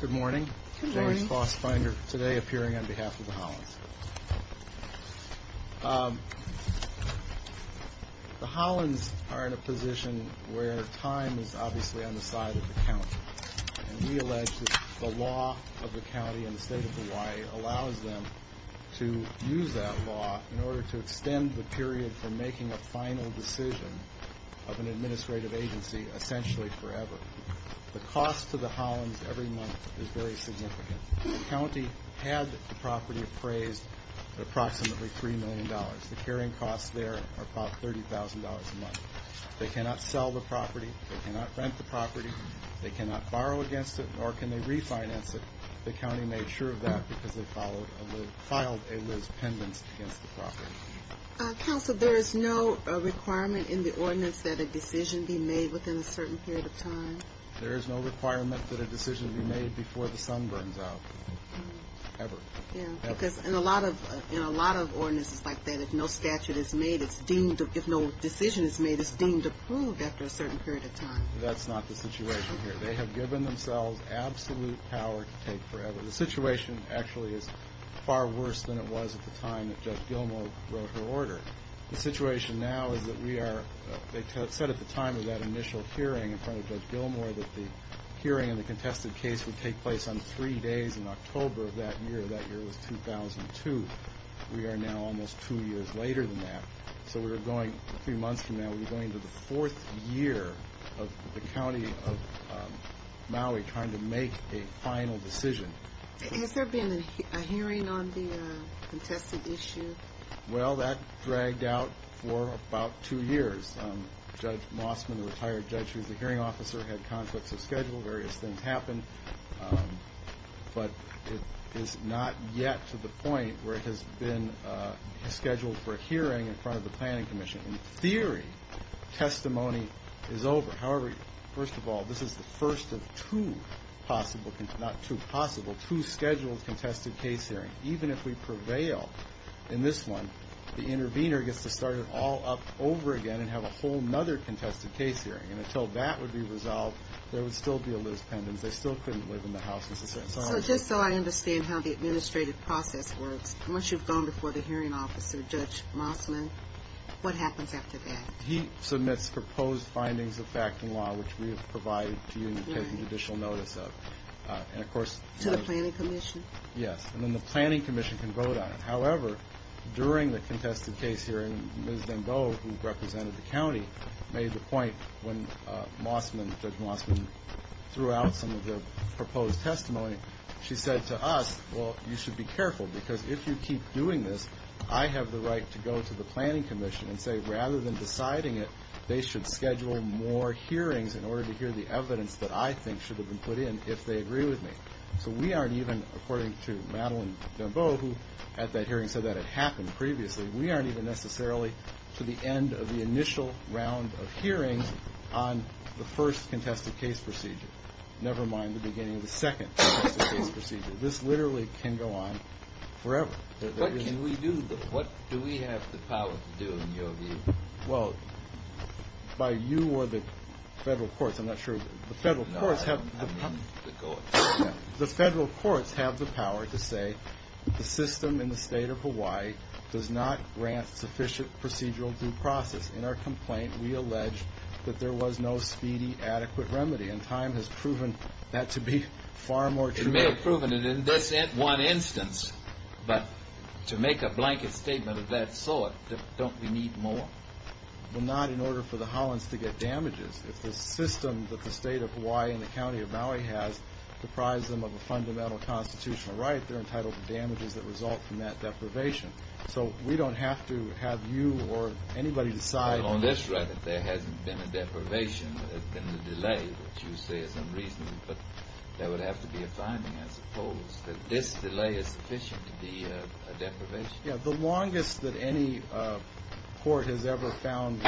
Good morning. James Foss Finder, today appearing on behalf of the Hollins. The Hollins are in a position where time is obviously on the side of the county. And we allege that the law of the county and the state of Hawaii allows them to use that law in order to extend the period from making a final decision of an administrative agency essentially forever. The cost to the Hollins every month is very significant. The county had the property appraised at approximately $3 million. The carrying costs there are about $30,000 a month. They cannot sell the property. They cannot rent the property. They cannot borrow against it, nor can they refinance it. The county made sure of that because they filed a Liz pendants against the property. Counsel, there is no requirement in the ordinance that a decision be made within a certain period of time? There is no requirement that a decision be made before the sun burns out. Ever. Because in a lot of ordinances like that, if no statute is made, if no decision is made, it's deemed approved after a certain period of time. That's not the situation here. They have given themselves absolute power to take forever. The situation actually is far worse than it was at the time that Judge Gilmore wrote her order. The situation now is that we are, they said at the time of that initial hearing in front of Judge Gilmore that the hearing and the contested case would take place on three days in October of that year. That year was 2002. We are now almost two years later than that. So we are going, a few months from now, we are going to the fourth year of the county of Maui trying to make a final decision. Has there been a hearing on the contested issue? Well, that dragged out for about two years. Judge Mossman, the retired judge who was the hearing officer, had conflicts of schedule. Various things happened. But it is not yet to the point where it has been scheduled for a hearing in front of the planning commission. In theory, testimony is over. However, first of all, this is the first of two possible, not two possible, two scheduled contested case hearings. Even if we prevail in this one, the intervener gets to start it all up over again and have a whole other contested case hearing. And until that would be resolved, there would still be a Liz Pendens. They still couldn't live in the house necessarily. So just so I understand how the administrative process works, once you've gone before the hearing officer, Judge Mossman, what happens after that? He submits proposed findings of fact and law, which we have provided to you to take judicial notice of. To the planning commission? Yes, and then the planning commission can vote on it. However, during the contested case hearing, Ms. Dembele, who represented the county, made the point when Judge Mossman threw out some of the proposed testimony, she said to us, well, you should be careful because if you keep doing this, I have the right to go to the planning commission and say rather than deciding it, they should schedule more hearings in order to hear the evidence that I think should have been put in if they agree with me. So we aren't even, according to Madeline Dembele, who at that hearing said that it happened previously, we aren't even necessarily to the end of the initial round of hearings on the first contested case procedure, never mind the beginning of the second contested case procedure. This literally can go on forever. What can we do? What do we have the power to do in your view? Well, by you or the federal courts, I'm not sure. The federal courts have the power to say the system in the state of Hawaii does not grant sufficient procedural due process. In our complaint, we allege that there was no speedy, adequate remedy, and time has proven that to be far more true. It may have proven it in this one instance, but to make a blanket statement of that sort, don't we need more? Well, not in order for the Hollins to get damages. If the system that the state of Hawaii and the county of Maui has deprives them of a fundamental constitutional right, they're entitled to damages that result from that deprivation. So we don't have to have you or anybody decide. Well, on this record, there hasn't been a deprivation. There's been a delay, which you say is unreasonable. But there would have to be a finding, I suppose, that this delay is sufficient to be a deprivation. Yeah, the longest that any court has ever found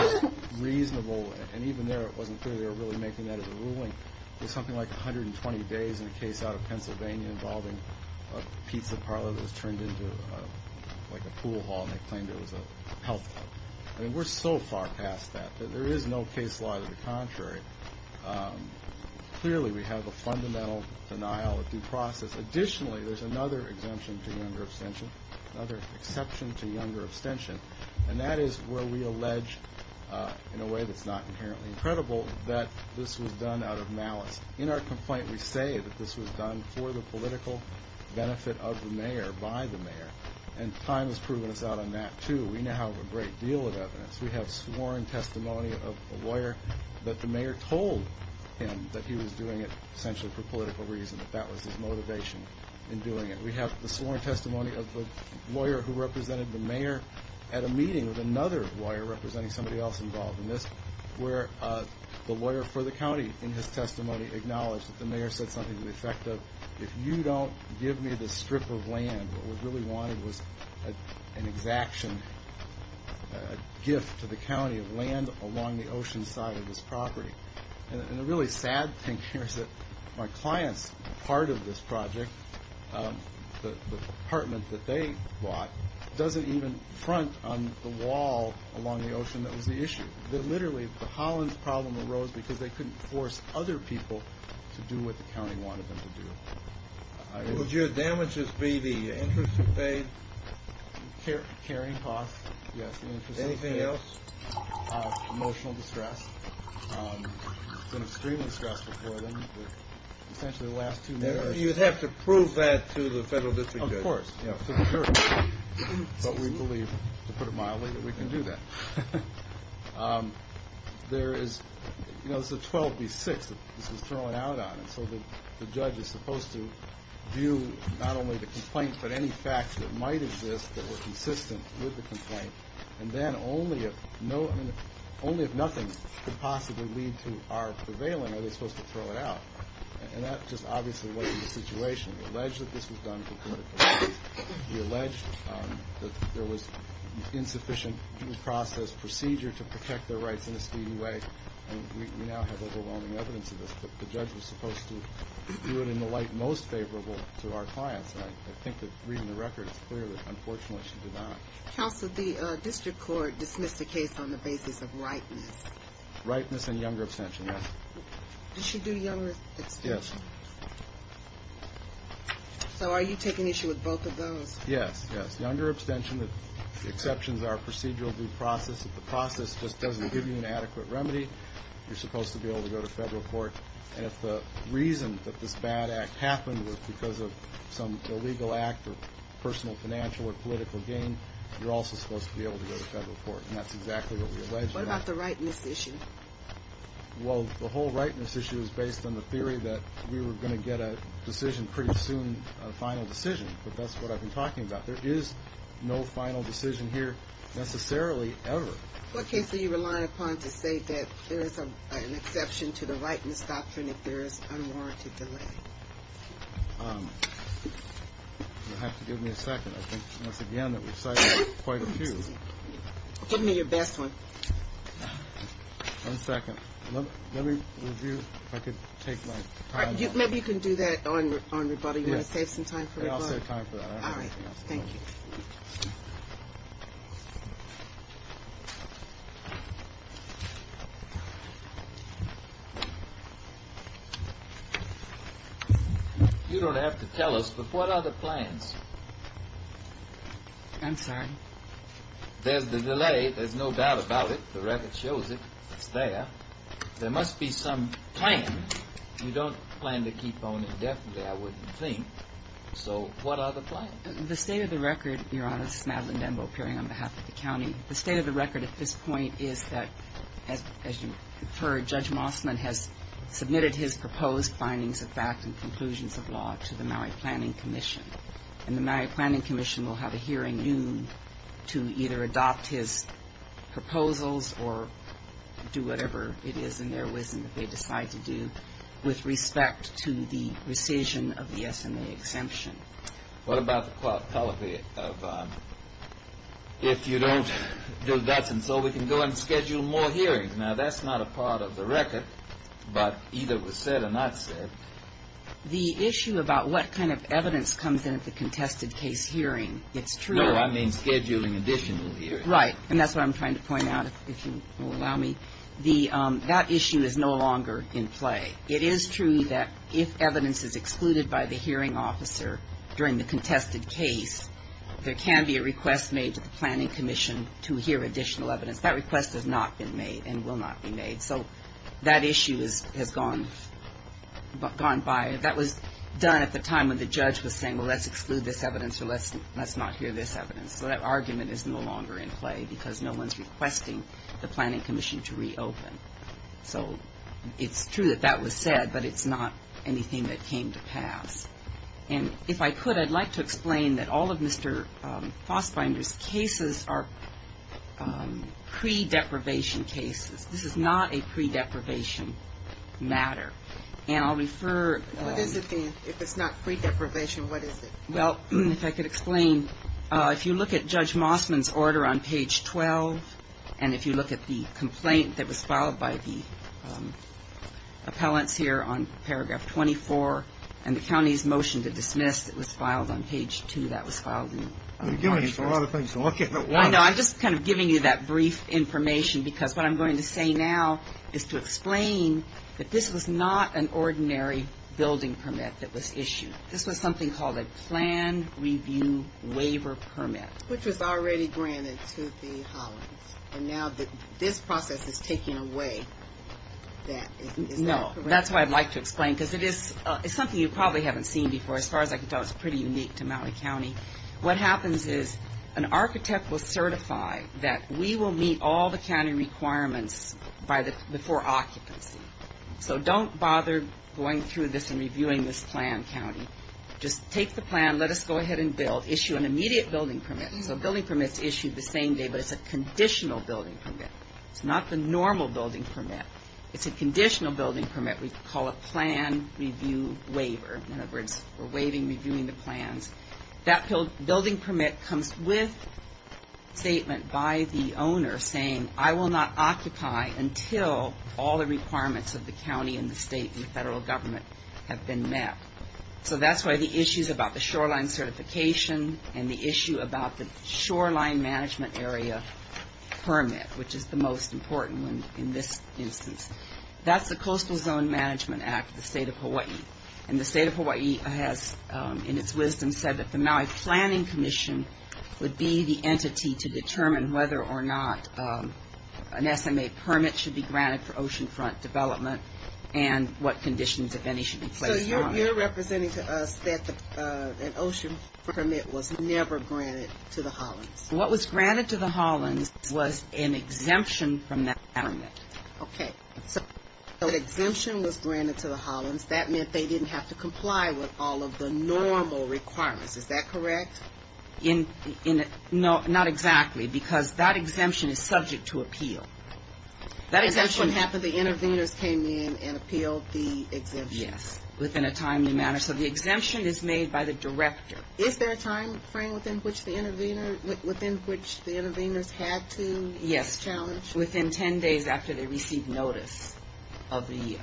reasonable, and even there it wasn't clear they were really making that as a ruling, was something like 120 days in a case out of Pennsylvania involving a pizza parlor that was turned into like a pool hall, and they claimed it was a health club. I mean, we're so far past that that there is no case law to the contrary. Clearly, we have a fundamental denial of due process. Additionally, there's another exemption to younger abstention, another exception to younger abstention, and that is where we allege, in a way that's not inherently incredible, that this was done out of malice. In our complaint, we say that this was done for the political benefit of the mayor, by the mayor, and time has proven us out on that, too. We now have a great deal of evidence. We have sworn testimony of a lawyer that the mayor told him that he was doing it essentially for political reasons, and that that was his motivation in doing it. We have the sworn testimony of a lawyer who represented the mayor at a meeting with another lawyer representing somebody else involved in this, where the lawyer for the county in his testimony acknowledged that the mayor said something to the effect of, if you don't give me this strip of land, what we really wanted was an exaction, a gift to the county of land along the ocean side of this property. The really sad thing here is that my client's part of this project, the apartment that they bought, doesn't even front on the wall along the ocean that was the issue. Literally, the Hollins problem arose because they couldn't force other people to do what the county wanted them to do. Would your damages be the interest you paid? Caring costs, yes. Anything else? Emotional distress. It's been extremely stressful for them. Essentially, the last two mayors- You'd have to prove that to the federal district judge. Of course. But we believe, to put it mildly, that we can do that. There is a 12B6 that this was thrown out on, and so the judge is supposed to view not only the complaint but any facts that might exist that were consistent with the complaint, and then only if nothing could possibly lead to our prevailing are they supposed to throw it out, and that just obviously wasn't the situation. We alleged that this was done for political reasons. We alleged that there was insufficient due process procedure to protect their rights in a speedy way, and we now have overwhelming evidence of this, but the judge was supposed to do it in the light most favorable to our clients, and I think that reading the record, it's clear that unfortunately she did not. Counsel, the district court dismissed the case on the basis of ripeness. Ripeness and younger abstention, yes. Did she do younger abstention? Yes. So are you taking issue with both of those? Yes, yes. Younger abstention, the exceptions are procedural due process. If the process just doesn't give you an adequate remedy, you're supposed to be able to go to federal court, and if the reason that this bad act happened was because of some illegal act or personal financial or political gain, you're also supposed to be able to go to federal court, and that's exactly what we alleged. What about the rightness issue? Well, the whole rightness issue is based on the theory that we were going to get a decision pretty soon, a final decision, but that's what I've been talking about. There is no final decision here necessarily ever. What case do you rely upon to say that there is an exception to the rightness doctrine if there is unwarranted delay? You'll have to give me a second. I think once again that we cited quite a few. Give me your best one. One second. Let me review if I could take my time. Maybe you can do that on rebuttal. You want to save some time for rebuttal? I'll save time for that. All right. Thank you. You don't have to tell us, but what are the plans? I'm sorry? There's the delay. There's no doubt about it. The record shows it. It's there. There must be some plan. You don't plan to keep on indefinitely, I wouldn't think. So what are the plans? The state of the record, Your Honor, this is Madeline Denbo appearing on behalf of the county. The state of the record at this point is that, as you've heard, Judge Mossman has submitted his proposed findings of fact and conclusions of law to the Maui Planning Commission. And the Maui Planning Commission will have a hearing in June to either adopt his proposals or do whatever it is in their wisdom that they decide to do with respect to the rescission of the SMA exemption. What about the quality of if you don't do that, and so we can go ahead and schedule more hearings? Now, that's not a part of the record, but either was said or not said. The issue about what kind of evidence comes in at the contested case hearing, it's true. No, I mean scheduling additional hearings. Right, and that's what I'm trying to point out, if you will allow me. That issue is no longer in play. It is true that if evidence is excluded by the hearing officer during the contested case, there can be a request made to the Planning Commission to hear additional evidence. That request has not been made and will not be made. So that issue has gone by. That was done at the time when the judge was saying, well, let's exclude this evidence or let's not hear this evidence. So that argument is no longer in play because no one is requesting the Planning Commission to reopen. So it's true that that was said, but it's not anything that came to pass. And if I could, I'd like to explain that all of Mr. Fassbinder's cases are pre-deprivation cases. This is not a pre-deprivation matter. And I'll refer. What is it then? If it's not pre-deprivation, what is it? Well, if I could explain, if you look at Judge Mossman's order on page 12, and if you look at the complaint that was filed by the appellants here on paragraph 24, and the county's motion to dismiss that was filed on page 2, that was filed in August. You're giving us a lot of things to look at. I know. I'm just kind of giving you that brief information because what I'm going to say now is to explain that this was not an ordinary building permit that was issued. This was something called a plan review waiver permit. Which was already granted to the Hollins. And now this process is taking away that. No. That's why I'd like to explain because it is something you probably haven't seen before. As far as I can tell, it's pretty unique to Maui County. What happens is an architect will certify that we will meet all the county requirements before occupancy. So don't bother going through this and reviewing this plan, county. Just take the plan. Let us go ahead and build. Issue an immediate building permit. So a building permit is issued the same day, but it's a conditional building permit. It's not the normal building permit. It's a conditional building permit. We call it plan review waiver. In other words, we're waiving reviewing the plans. That building permit comes with a statement by the owner saying, I will not occupy until all the requirements of the county and the state and the federal government have been met. So that's why the issues about the shoreline certification and the issue about the shoreline management area permit, which is the most important one in this instance. That's the Coastal Zone Management Act of the State of Hawaii. And the State of Hawaii has, in its wisdom, said that the Maui Planning Commission would be the entity to determine whether or not an SMA permit should be granted for oceanfront development and what conditions, if any, should be placed on it. So you're representing to us that an ocean permit was never granted to the Hollins. What was granted to the Hollins was an exemption from that permit. Okay. So the exemption was granted to the Hollins. That meant they didn't have to comply with all of the normal requirements. Is that correct? Not exactly, because that exemption is subject to appeal. That's what happened. The intervenors came in and appealed the exemption. Yes. Within a timely manner. So the exemption is made by the director. Is there a time frame within which the intervenors had to challenge? Within ten days after they received notice of the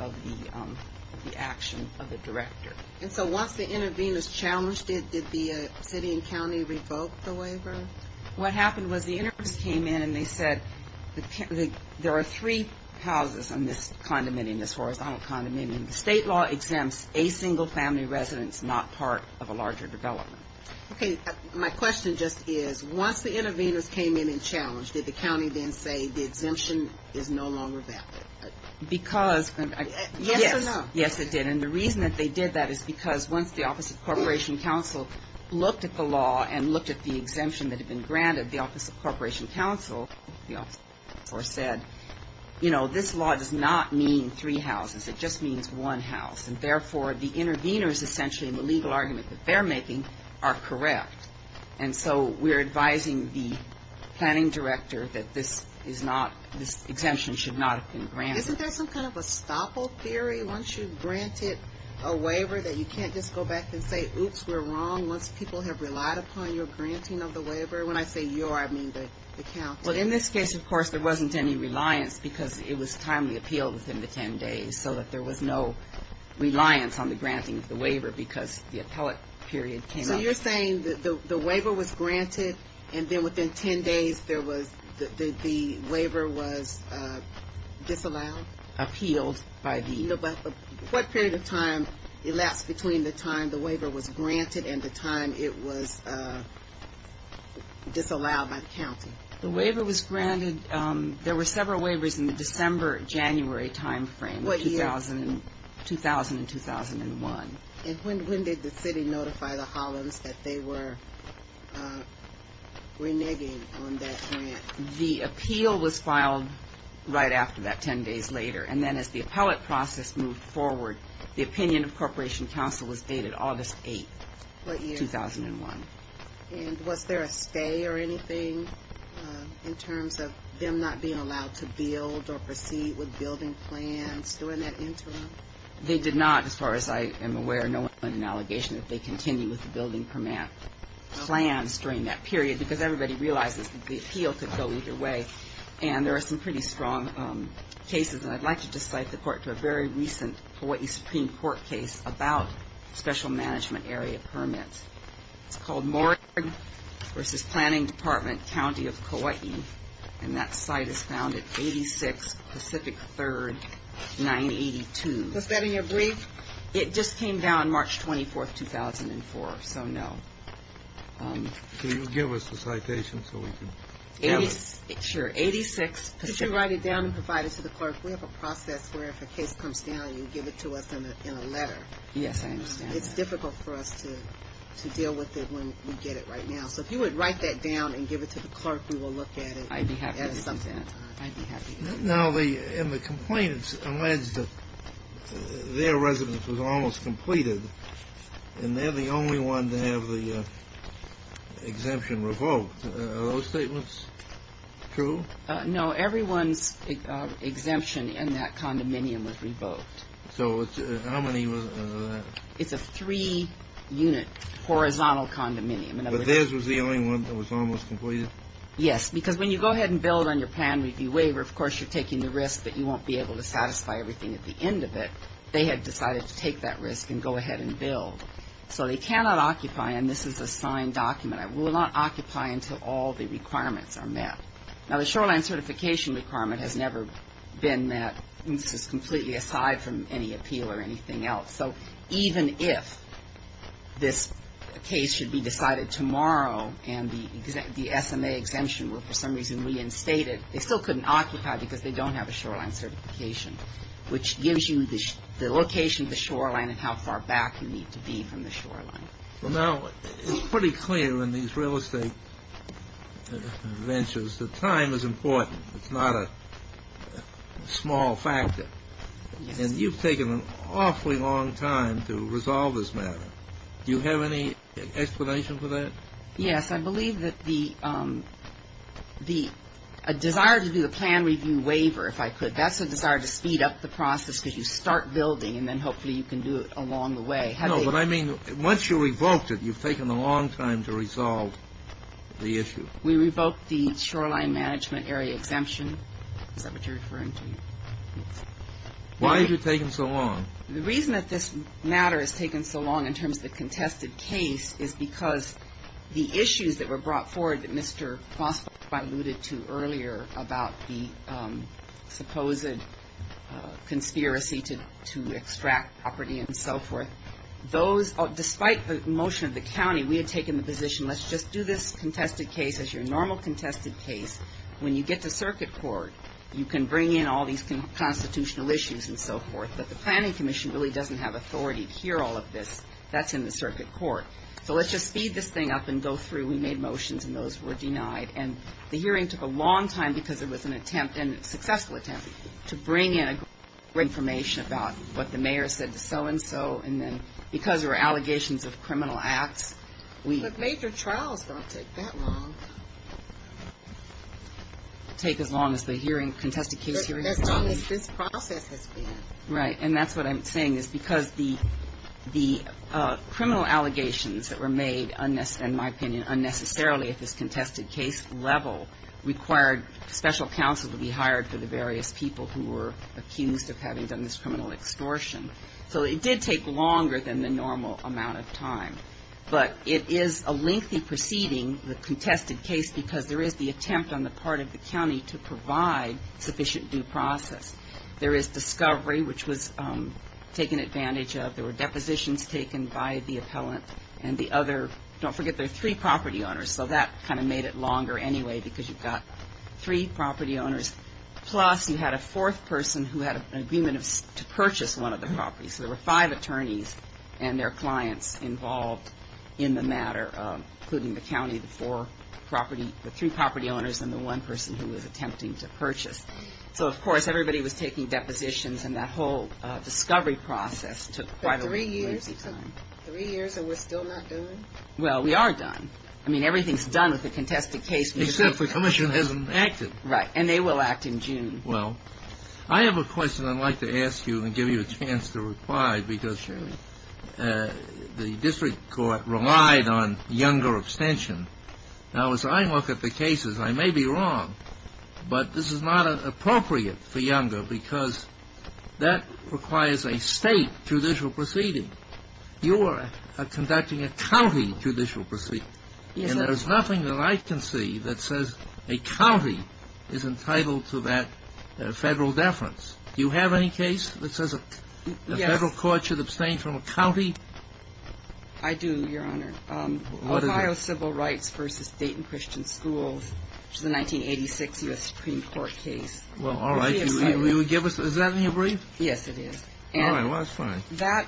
action of the director. And so once the intervenors challenged it, did the city and county revoke the waiver? What happened was the intervenors came in and they said there are three houses on this condominium, this horizontal condominium. The state law exempts a single family residence not part of a larger development. Okay. My question just is once the intervenors came in and challenged, did the county then say the exemption is no longer valid? Yes or no? Yes, it did. And the reason that they did that is because once the Office of Corporation Counsel looked at the law and looked at the exemption that had been granted, the Office of Corporation Counsel said, you know, this law does not mean three houses. It just means one house. And therefore, the intervenors essentially in the legal argument that they're making are correct. And so we're advising the planning director that this is not, this exemption should not have been granted. Isn't there some kind of a stopple theory once you've granted a waiver that you can't just go back and say, oops, we're wrong once people have relied upon your granting of the waiver? When I say your, I mean the county. Well, in this case, of course, there wasn't any reliance because it was timely appeal within the ten days so that there was no reliance on the granting of the waiver because the appellate period came up. So you're saying that the waiver was granted and then within ten days there was, the waiver was disallowed? Appealed by the. No, but what period of time elapsed between the time the waiver was granted and the time it was disallowed by the county? The waiver was granted, there were several waivers in the December, January timeframe. What year? 2000 and 2001. And when did the city notify the Hollins that they were reneging on that grant? The appeal was filed right after that, ten days later. And then as the appellate process moved forward, the opinion of Corporation Council was dated August 8, 2001. What year? And was there a stay or anything in terms of them not being allowed to build or proceed with building plans during that interim? They did not, as far as I am aware. No one made an allegation that they continued with the building permit plans during that period because everybody realizes that the appeal could go either way. And there are some pretty strong cases, and I'd like to just cite the court to a very recent Kauai Supreme Court case about special management area permits. It's called Morgue v. Planning Department, County of Kauai, and that site is found at 86 Pacific 3rd, 982. Was that in your brief? It just came down March 24, 2004, so no. Can you give us the citation so we can get it? Sure, 86 Pacific 3rd. Could you write it down and provide it to the clerk? We have a process where if a case comes down, you give it to us in a letter. Yes, I understand. It's difficult for us to deal with it when we get it right now. So if you would write that down and give it to the clerk, we will look at it at some point. I'd be happy to do that. I'd be happy to do that. Now, the complainants alleged that their residence was almost completed, and they're the only one to have the exemption revoked. Are those statements true? No, everyone's exemption in that condominium was revoked. So how many was that? It's a three-unit horizontal condominium. But theirs was the only one that was almost completed? Yes, because when you go ahead and build on your plan review waiver, of course you're taking the risk that you won't be able to satisfy everything at the end of it. They had decided to take that risk and go ahead and build. So they cannot occupy, and this is a signed document, will not occupy until all the requirements are met. Now, the shoreline certification requirement has never been met. This is completely aside from any appeal or anything else. So even if this case should be decided tomorrow and the SMA exemption were for some reason reinstated, they still couldn't occupy because they don't have a shoreline certification, which gives you the location of the shoreline and how far back you need to be from the shoreline. Now, it's pretty clear in these real estate ventures that time is important. It's not a small factor. And you've taken an awfully long time to resolve this matter. Do you have any explanation for that? Yes, I believe that the desire to do the plan review waiver, if I could, that's a desire to speed up the process because you start building, and then hopefully you can do it along the way. No, but I mean once you revoked it, you've taken a long time to resolve the issue. We revoked the shoreline management area exemption. Is that what you're referring to? Yes. Why have you taken so long? The reason that this matter has taken so long in terms of the contested case is because the issues that were brought forward that Mr. Foster alluded to earlier about the supposed conspiracy to extract property and so forth, those, despite the motion of the county, we had taken the position, let's just do this contested case as your normal contested case. When you get to circuit court, you can bring in all these constitutional issues and so forth, but the planning commission really doesn't have authority to hear all of this. That's in the circuit court. So let's just speed this thing up and go through. We made motions, and those were denied. And the hearing took a long time because it was an attempt, and a successful attempt, to bring in information about what the mayor said to so-and-so, and then because there were allegations of criminal acts. But major trials don't take that long. They take as long as the hearing, contested case hearing. As long as this process has been. Right. And that's what I'm saying, is because the criminal allegations that were made, in my opinion, unnecessarily at this contested case level, required special counsel to be hired for the various people who were accused of having done this criminal extortion. So it did take longer than the normal amount of time. But it is a lengthy proceeding, the contested case, because there is the attempt on the part of the county to provide sufficient due process. There is discovery, which was taken advantage of. There were depositions taken by the appellant. And the other, don't forget, there are three property owners. So that kind of made it longer anyway, because you've got three property owners. Plus you had a fourth person who had an agreement to purchase one of the properties. So there were five attorneys and their clients involved in the matter, including the county, the three property owners, and the one person who was attempting to purchase. So, of course, everybody was taking depositions, and that whole discovery process took quite a lengthy time. But three years? Three years and we're still not done? Well, we are done. I mean, everything's done with the contested case. Except the commission hasn't acted. Right. And they will act in June. Well, I have a question I'd like to ask you and give you a chance to reply, because the district court relied on younger abstention. Now, as I look at the cases, I may be wrong, but this is not appropriate for younger because that requires a state judicial proceeding. You are conducting a county judicial proceeding. And there's nothing that I can see that says a county is entitled to that federal deference. Do you have any case that says a federal court should abstain from a county? I do, Your Honor. What is it? Well, all right. Is that in your brief? Yes, it is. All right. Well, that's fine. That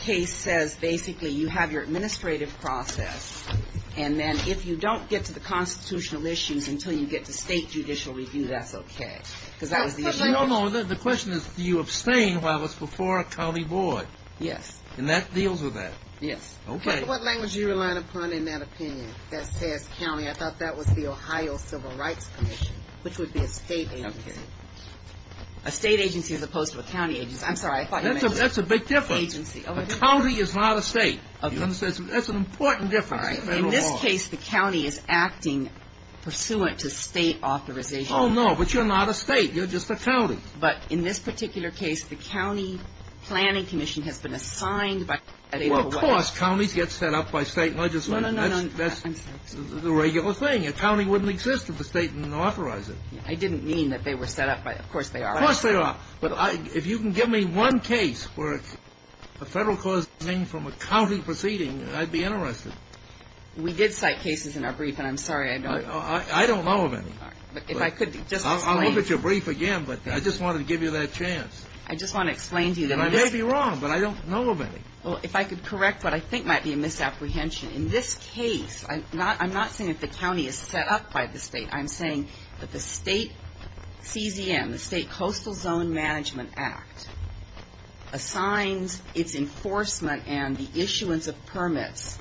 case says basically you have your administrative process, and then if you don't get to the constitutional issues until you get to state judicial review, that's okay. No, no, the question is do you abstain while it's before a county board? Yes. And that deals with that? Yes. Okay. What language do you rely upon in that opinion that says county? I thought that was the Ohio Civil Rights Commission, which would be a state agency. A state agency as opposed to a county agency. I'm sorry, I thought you meant a state agency. That's a big difference. A county is not a state. That's an important difference. In this case, the county is acting pursuant to state authorization. Oh, no, but you're not a state. You're just a county. But in this particular case, the county planning commission has been assigned by the federal government. Well, of course. Counties get set up by state legislators. No, no, no. That's the regular thing. A county wouldn't exist if the state didn't authorize it. I didn't mean that they were set up by the state. Of course they are. Of course they are. But if you can give me one case where a federal cause is obtained from a county proceeding, I'd be interested. We did cite cases in our brief, and I'm sorry, I don't know of any. If I could just explain. I'll look at your brief again, but I just wanted to give you that chance. I just want to explain to you that I missed. And I may be wrong, but I don't know of any. Well, if I could correct what I think might be a misapprehension. In this case, I'm not saying that the county is set up by the state. I'm saying that the state CZM, the State Coastal Zone Management Act, assigns its enforcement and the issuance of permits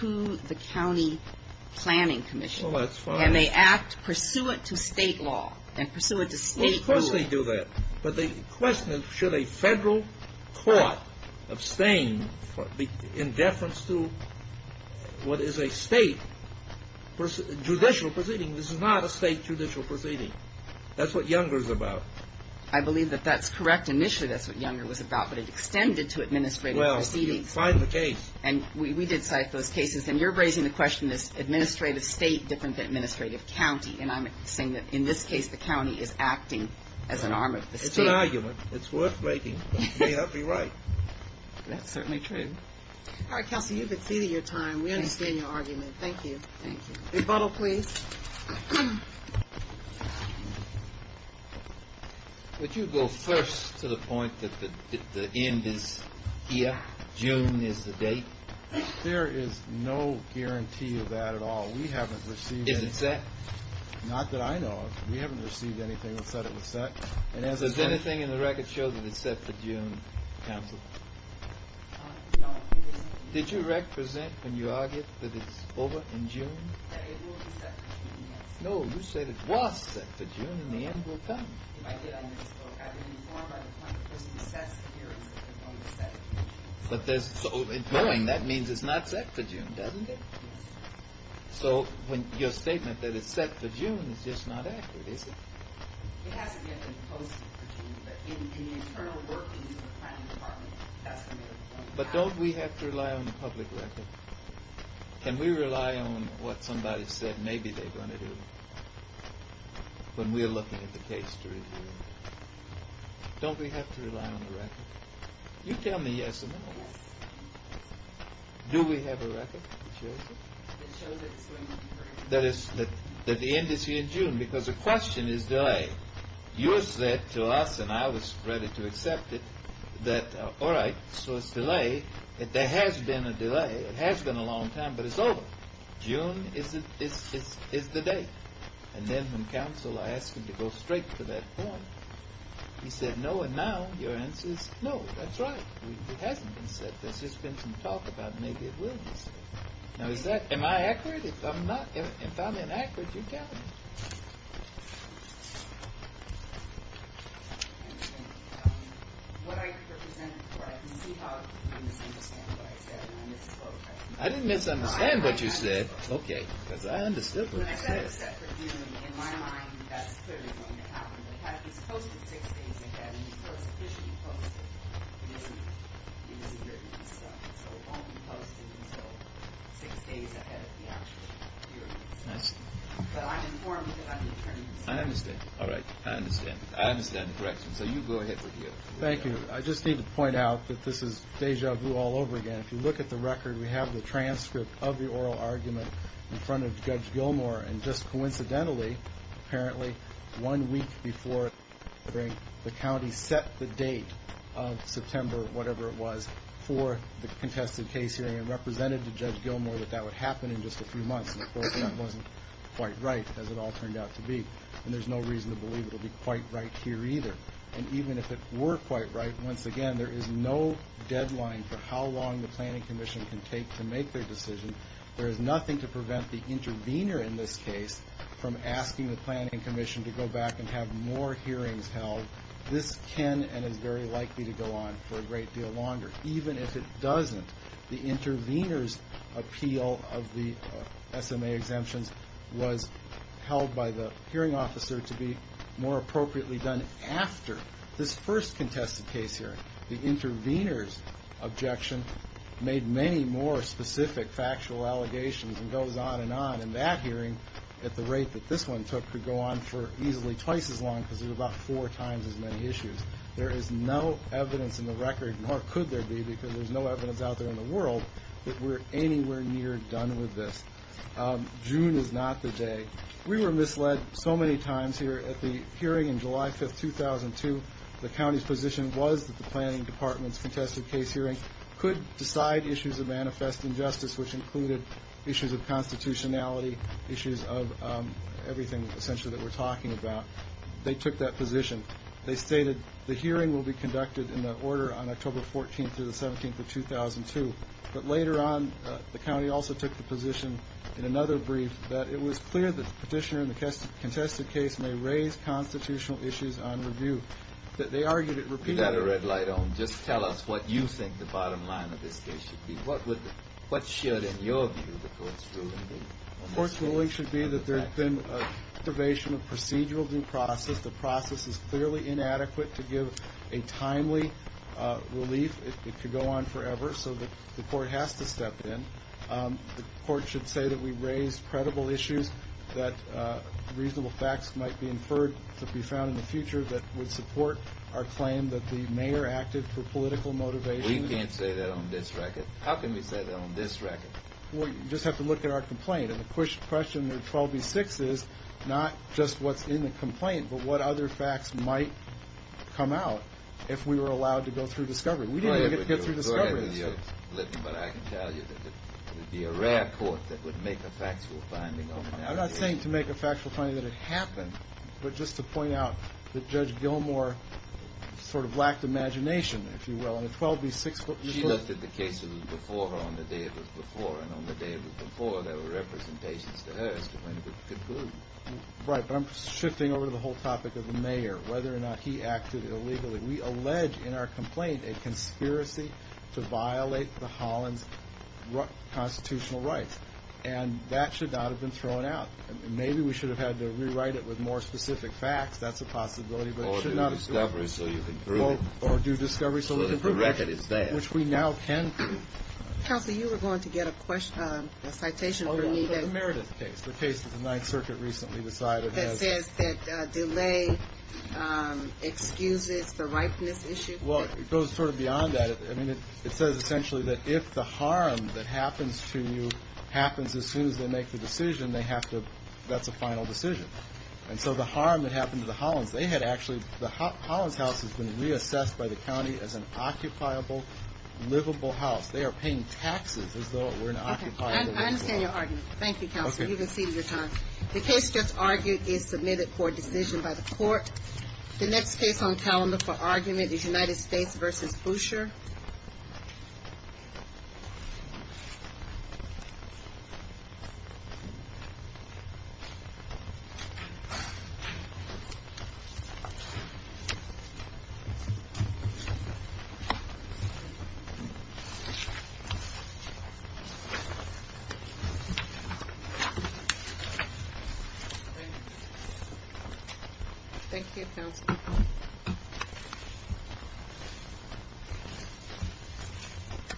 to the county planning commission. Well, that's fine. And they act pursuant to state law and pursuant to state rule. Well, of course they do that. But the question is, should a federal court abstain in deference to what is a state judicial proceeding? This is not a state judicial proceeding. That's what Younger is about. I believe that that's correct. Initially, that's what Younger was about, but it extended to administrative proceedings. Well, find the case. And we did cite those cases. And you're raising the question, is administrative state different than administrative county? And I'm saying that in this case, the county is acting as an arm of the state. It's an argument. It's worth making. May not be right. That's certainly true. All right, Kelsey, you've exceeded your time. We understand your argument. Thank you. Thank you. Rebuttal, please. Would you go first to the point that the end is here, June is the date? There is no guarantee of that at all. We haven't received anything. Is it set? Not that I know of. We haven't received anything that said it was set. Is there anything in the record show that it's set for June, Counsel? No. Did you represent when you argued that it's over in June? It will be set for June, yes. No, you said it was set for June, and the end will come. I did. I didn't inform by the point that it was set here. It was only set in June. So in going, that means it's not set for June, doesn't it? Yes. So your statement that it's set for June is just not accurate, is it? It hasn't yet been posted for June, but in the internal work we do with the planning department, that's going to be the point. But don't we have to rely on the public record? Can we rely on what somebody said maybe they're going to do when we're looking at the case to review it? Don't we have to rely on the record? You tell me yes or no. Yes. Do we have a record that shows it? It shows that it's going to be for June. That the end is here in June because the question is delay. You said to us, and I was ready to accept it, that all right, so it's delay. There has been a delay. It has been a long time, but it's over. June is the date. And then when Counsel asked him to go straight to that point, he said no, and now your answer is no, that's right. It hasn't been said. There's just been some talk about maybe it will be said. Now is that, am I accurate? If I'm not, if I'm inaccurate, you tell me. What I represented before, I can see how you misunderstand what I said and I misquote. I didn't misunderstand what you said. Okay, because I understood what you said. When I said it's set for June, in my mind, that's clearly going to happen. It's posted six days ahead. It's officially posted. It isn't written. So it won't be posted until six days ahead of the actual hearing. But I'm informed of that. I understand. All right. I understand. I understand the direction. So you go ahead. Thank you. I just need to point out that this is deja vu all over again. If you look at the record, we have the transcript of the oral argument in front of Judge Gilmore. And just coincidentally, apparently, one week before the hearing, the county set the date of September, whatever it was, for the contested case hearing and represented to Judge Gilmore that that would happen in just a few months. And, of course, that wasn't quite right, as it all turned out to be. And there's no reason to believe it will be quite right here either. And even if it were quite right, once again, there is no deadline for how long the planning commission can take to make their decision. There is nothing to prevent the intervener in this case from asking the planning commission to go back and have more hearings held. This can and is very likely to go on for a great deal longer. Even if it doesn't, the intervener's appeal of the SMA exemptions was held by the hearing officer to be more appropriately done after this first contested case hearing. The intervener's objection made many more specific factual allegations and goes on and on. And that hearing, at the rate that this one took, could go on for easily twice as long because there's about four times as many issues. There is no evidence in the record, nor could there be, because there's no evidence out there in the world, that we're anywhere near done with this. June is not the day. We were misled so many times here at the hearing in July 5, 2002. The county's position was that the planning department's contested case hearing could decide issues of manifest injustice, which included issues of constitutionality, issues of everything, essentially, that we're talking about. They took that position. They stated the hearing will be conducted in that order on October 14 through the 17th of 2002. But later on, the county also took the position in another brief that it was clear that the petitioner in the contested case may raise constitutional issues on review. They argued it repeatedly. We've got a red light on. Just tell us what you think the bottom line of this case should be. What should, in your view, the court's ruling be? The court's ruling should be that there's been observation of procedural due process. The process is clearly inadequate to give a timely relief. It could go on forever, so the court has to step in. The court should say that we've raised credible issues, that reasonable facts might be inferred to be found in the future that would support our claim that the mayor acted for political motivation. We can't say that on this record. How can we say that on this record? Well, you just have to look at our complaint. And the question with 12B-6 is not just what's in the complaint but what other facts might come out if we were allowed to go through discovery. We didn't even get to go through discovery. But I can tell you that it would be a rare court that would make a factual finding. I'm not saying to make a factual finding that it happened, but just to point out that Judge Gilmour sort of lacked imagination, if you will. She looked at the cases before her on the day it was before, and on the day it was before there were representations to her as to when it would conclude. Right, but I'm shifting over to the whole topic of the mayor, whether or not he acted illegally. We allege in our complaint a conspiracy to violate the Hollands' constitutional rights, and that should not have been thrown out. Maybe we should have had to rewrite it with more specific facts. That's a possibility, but it should not have been thrown out. Or do discovery so you can prove it. Or do discovery so we can prove it. So that the record is there. Which we now can prove. Counselor, you were going to get a citation for me that says that delay excuses the ripeness issue. Well, it goes sort of beyond that. I mean, it says essentially that if the harm that happens to you happens as soon as they make the decision, they have to – that's a final decision. And so the harm that happened to the Hollands, they had actually – the Hollands' house has been reassessed by the county as an occupiable, livable house. They are paying taxes as though it were an occupiable, livable house. I understand your argument. Thank you, Counselor. You've exceeded your time. The case just argued is submitted for decision by the court. The next case on calendar for argument is United States v. Boucher. Thank you. Thank you, Counselor.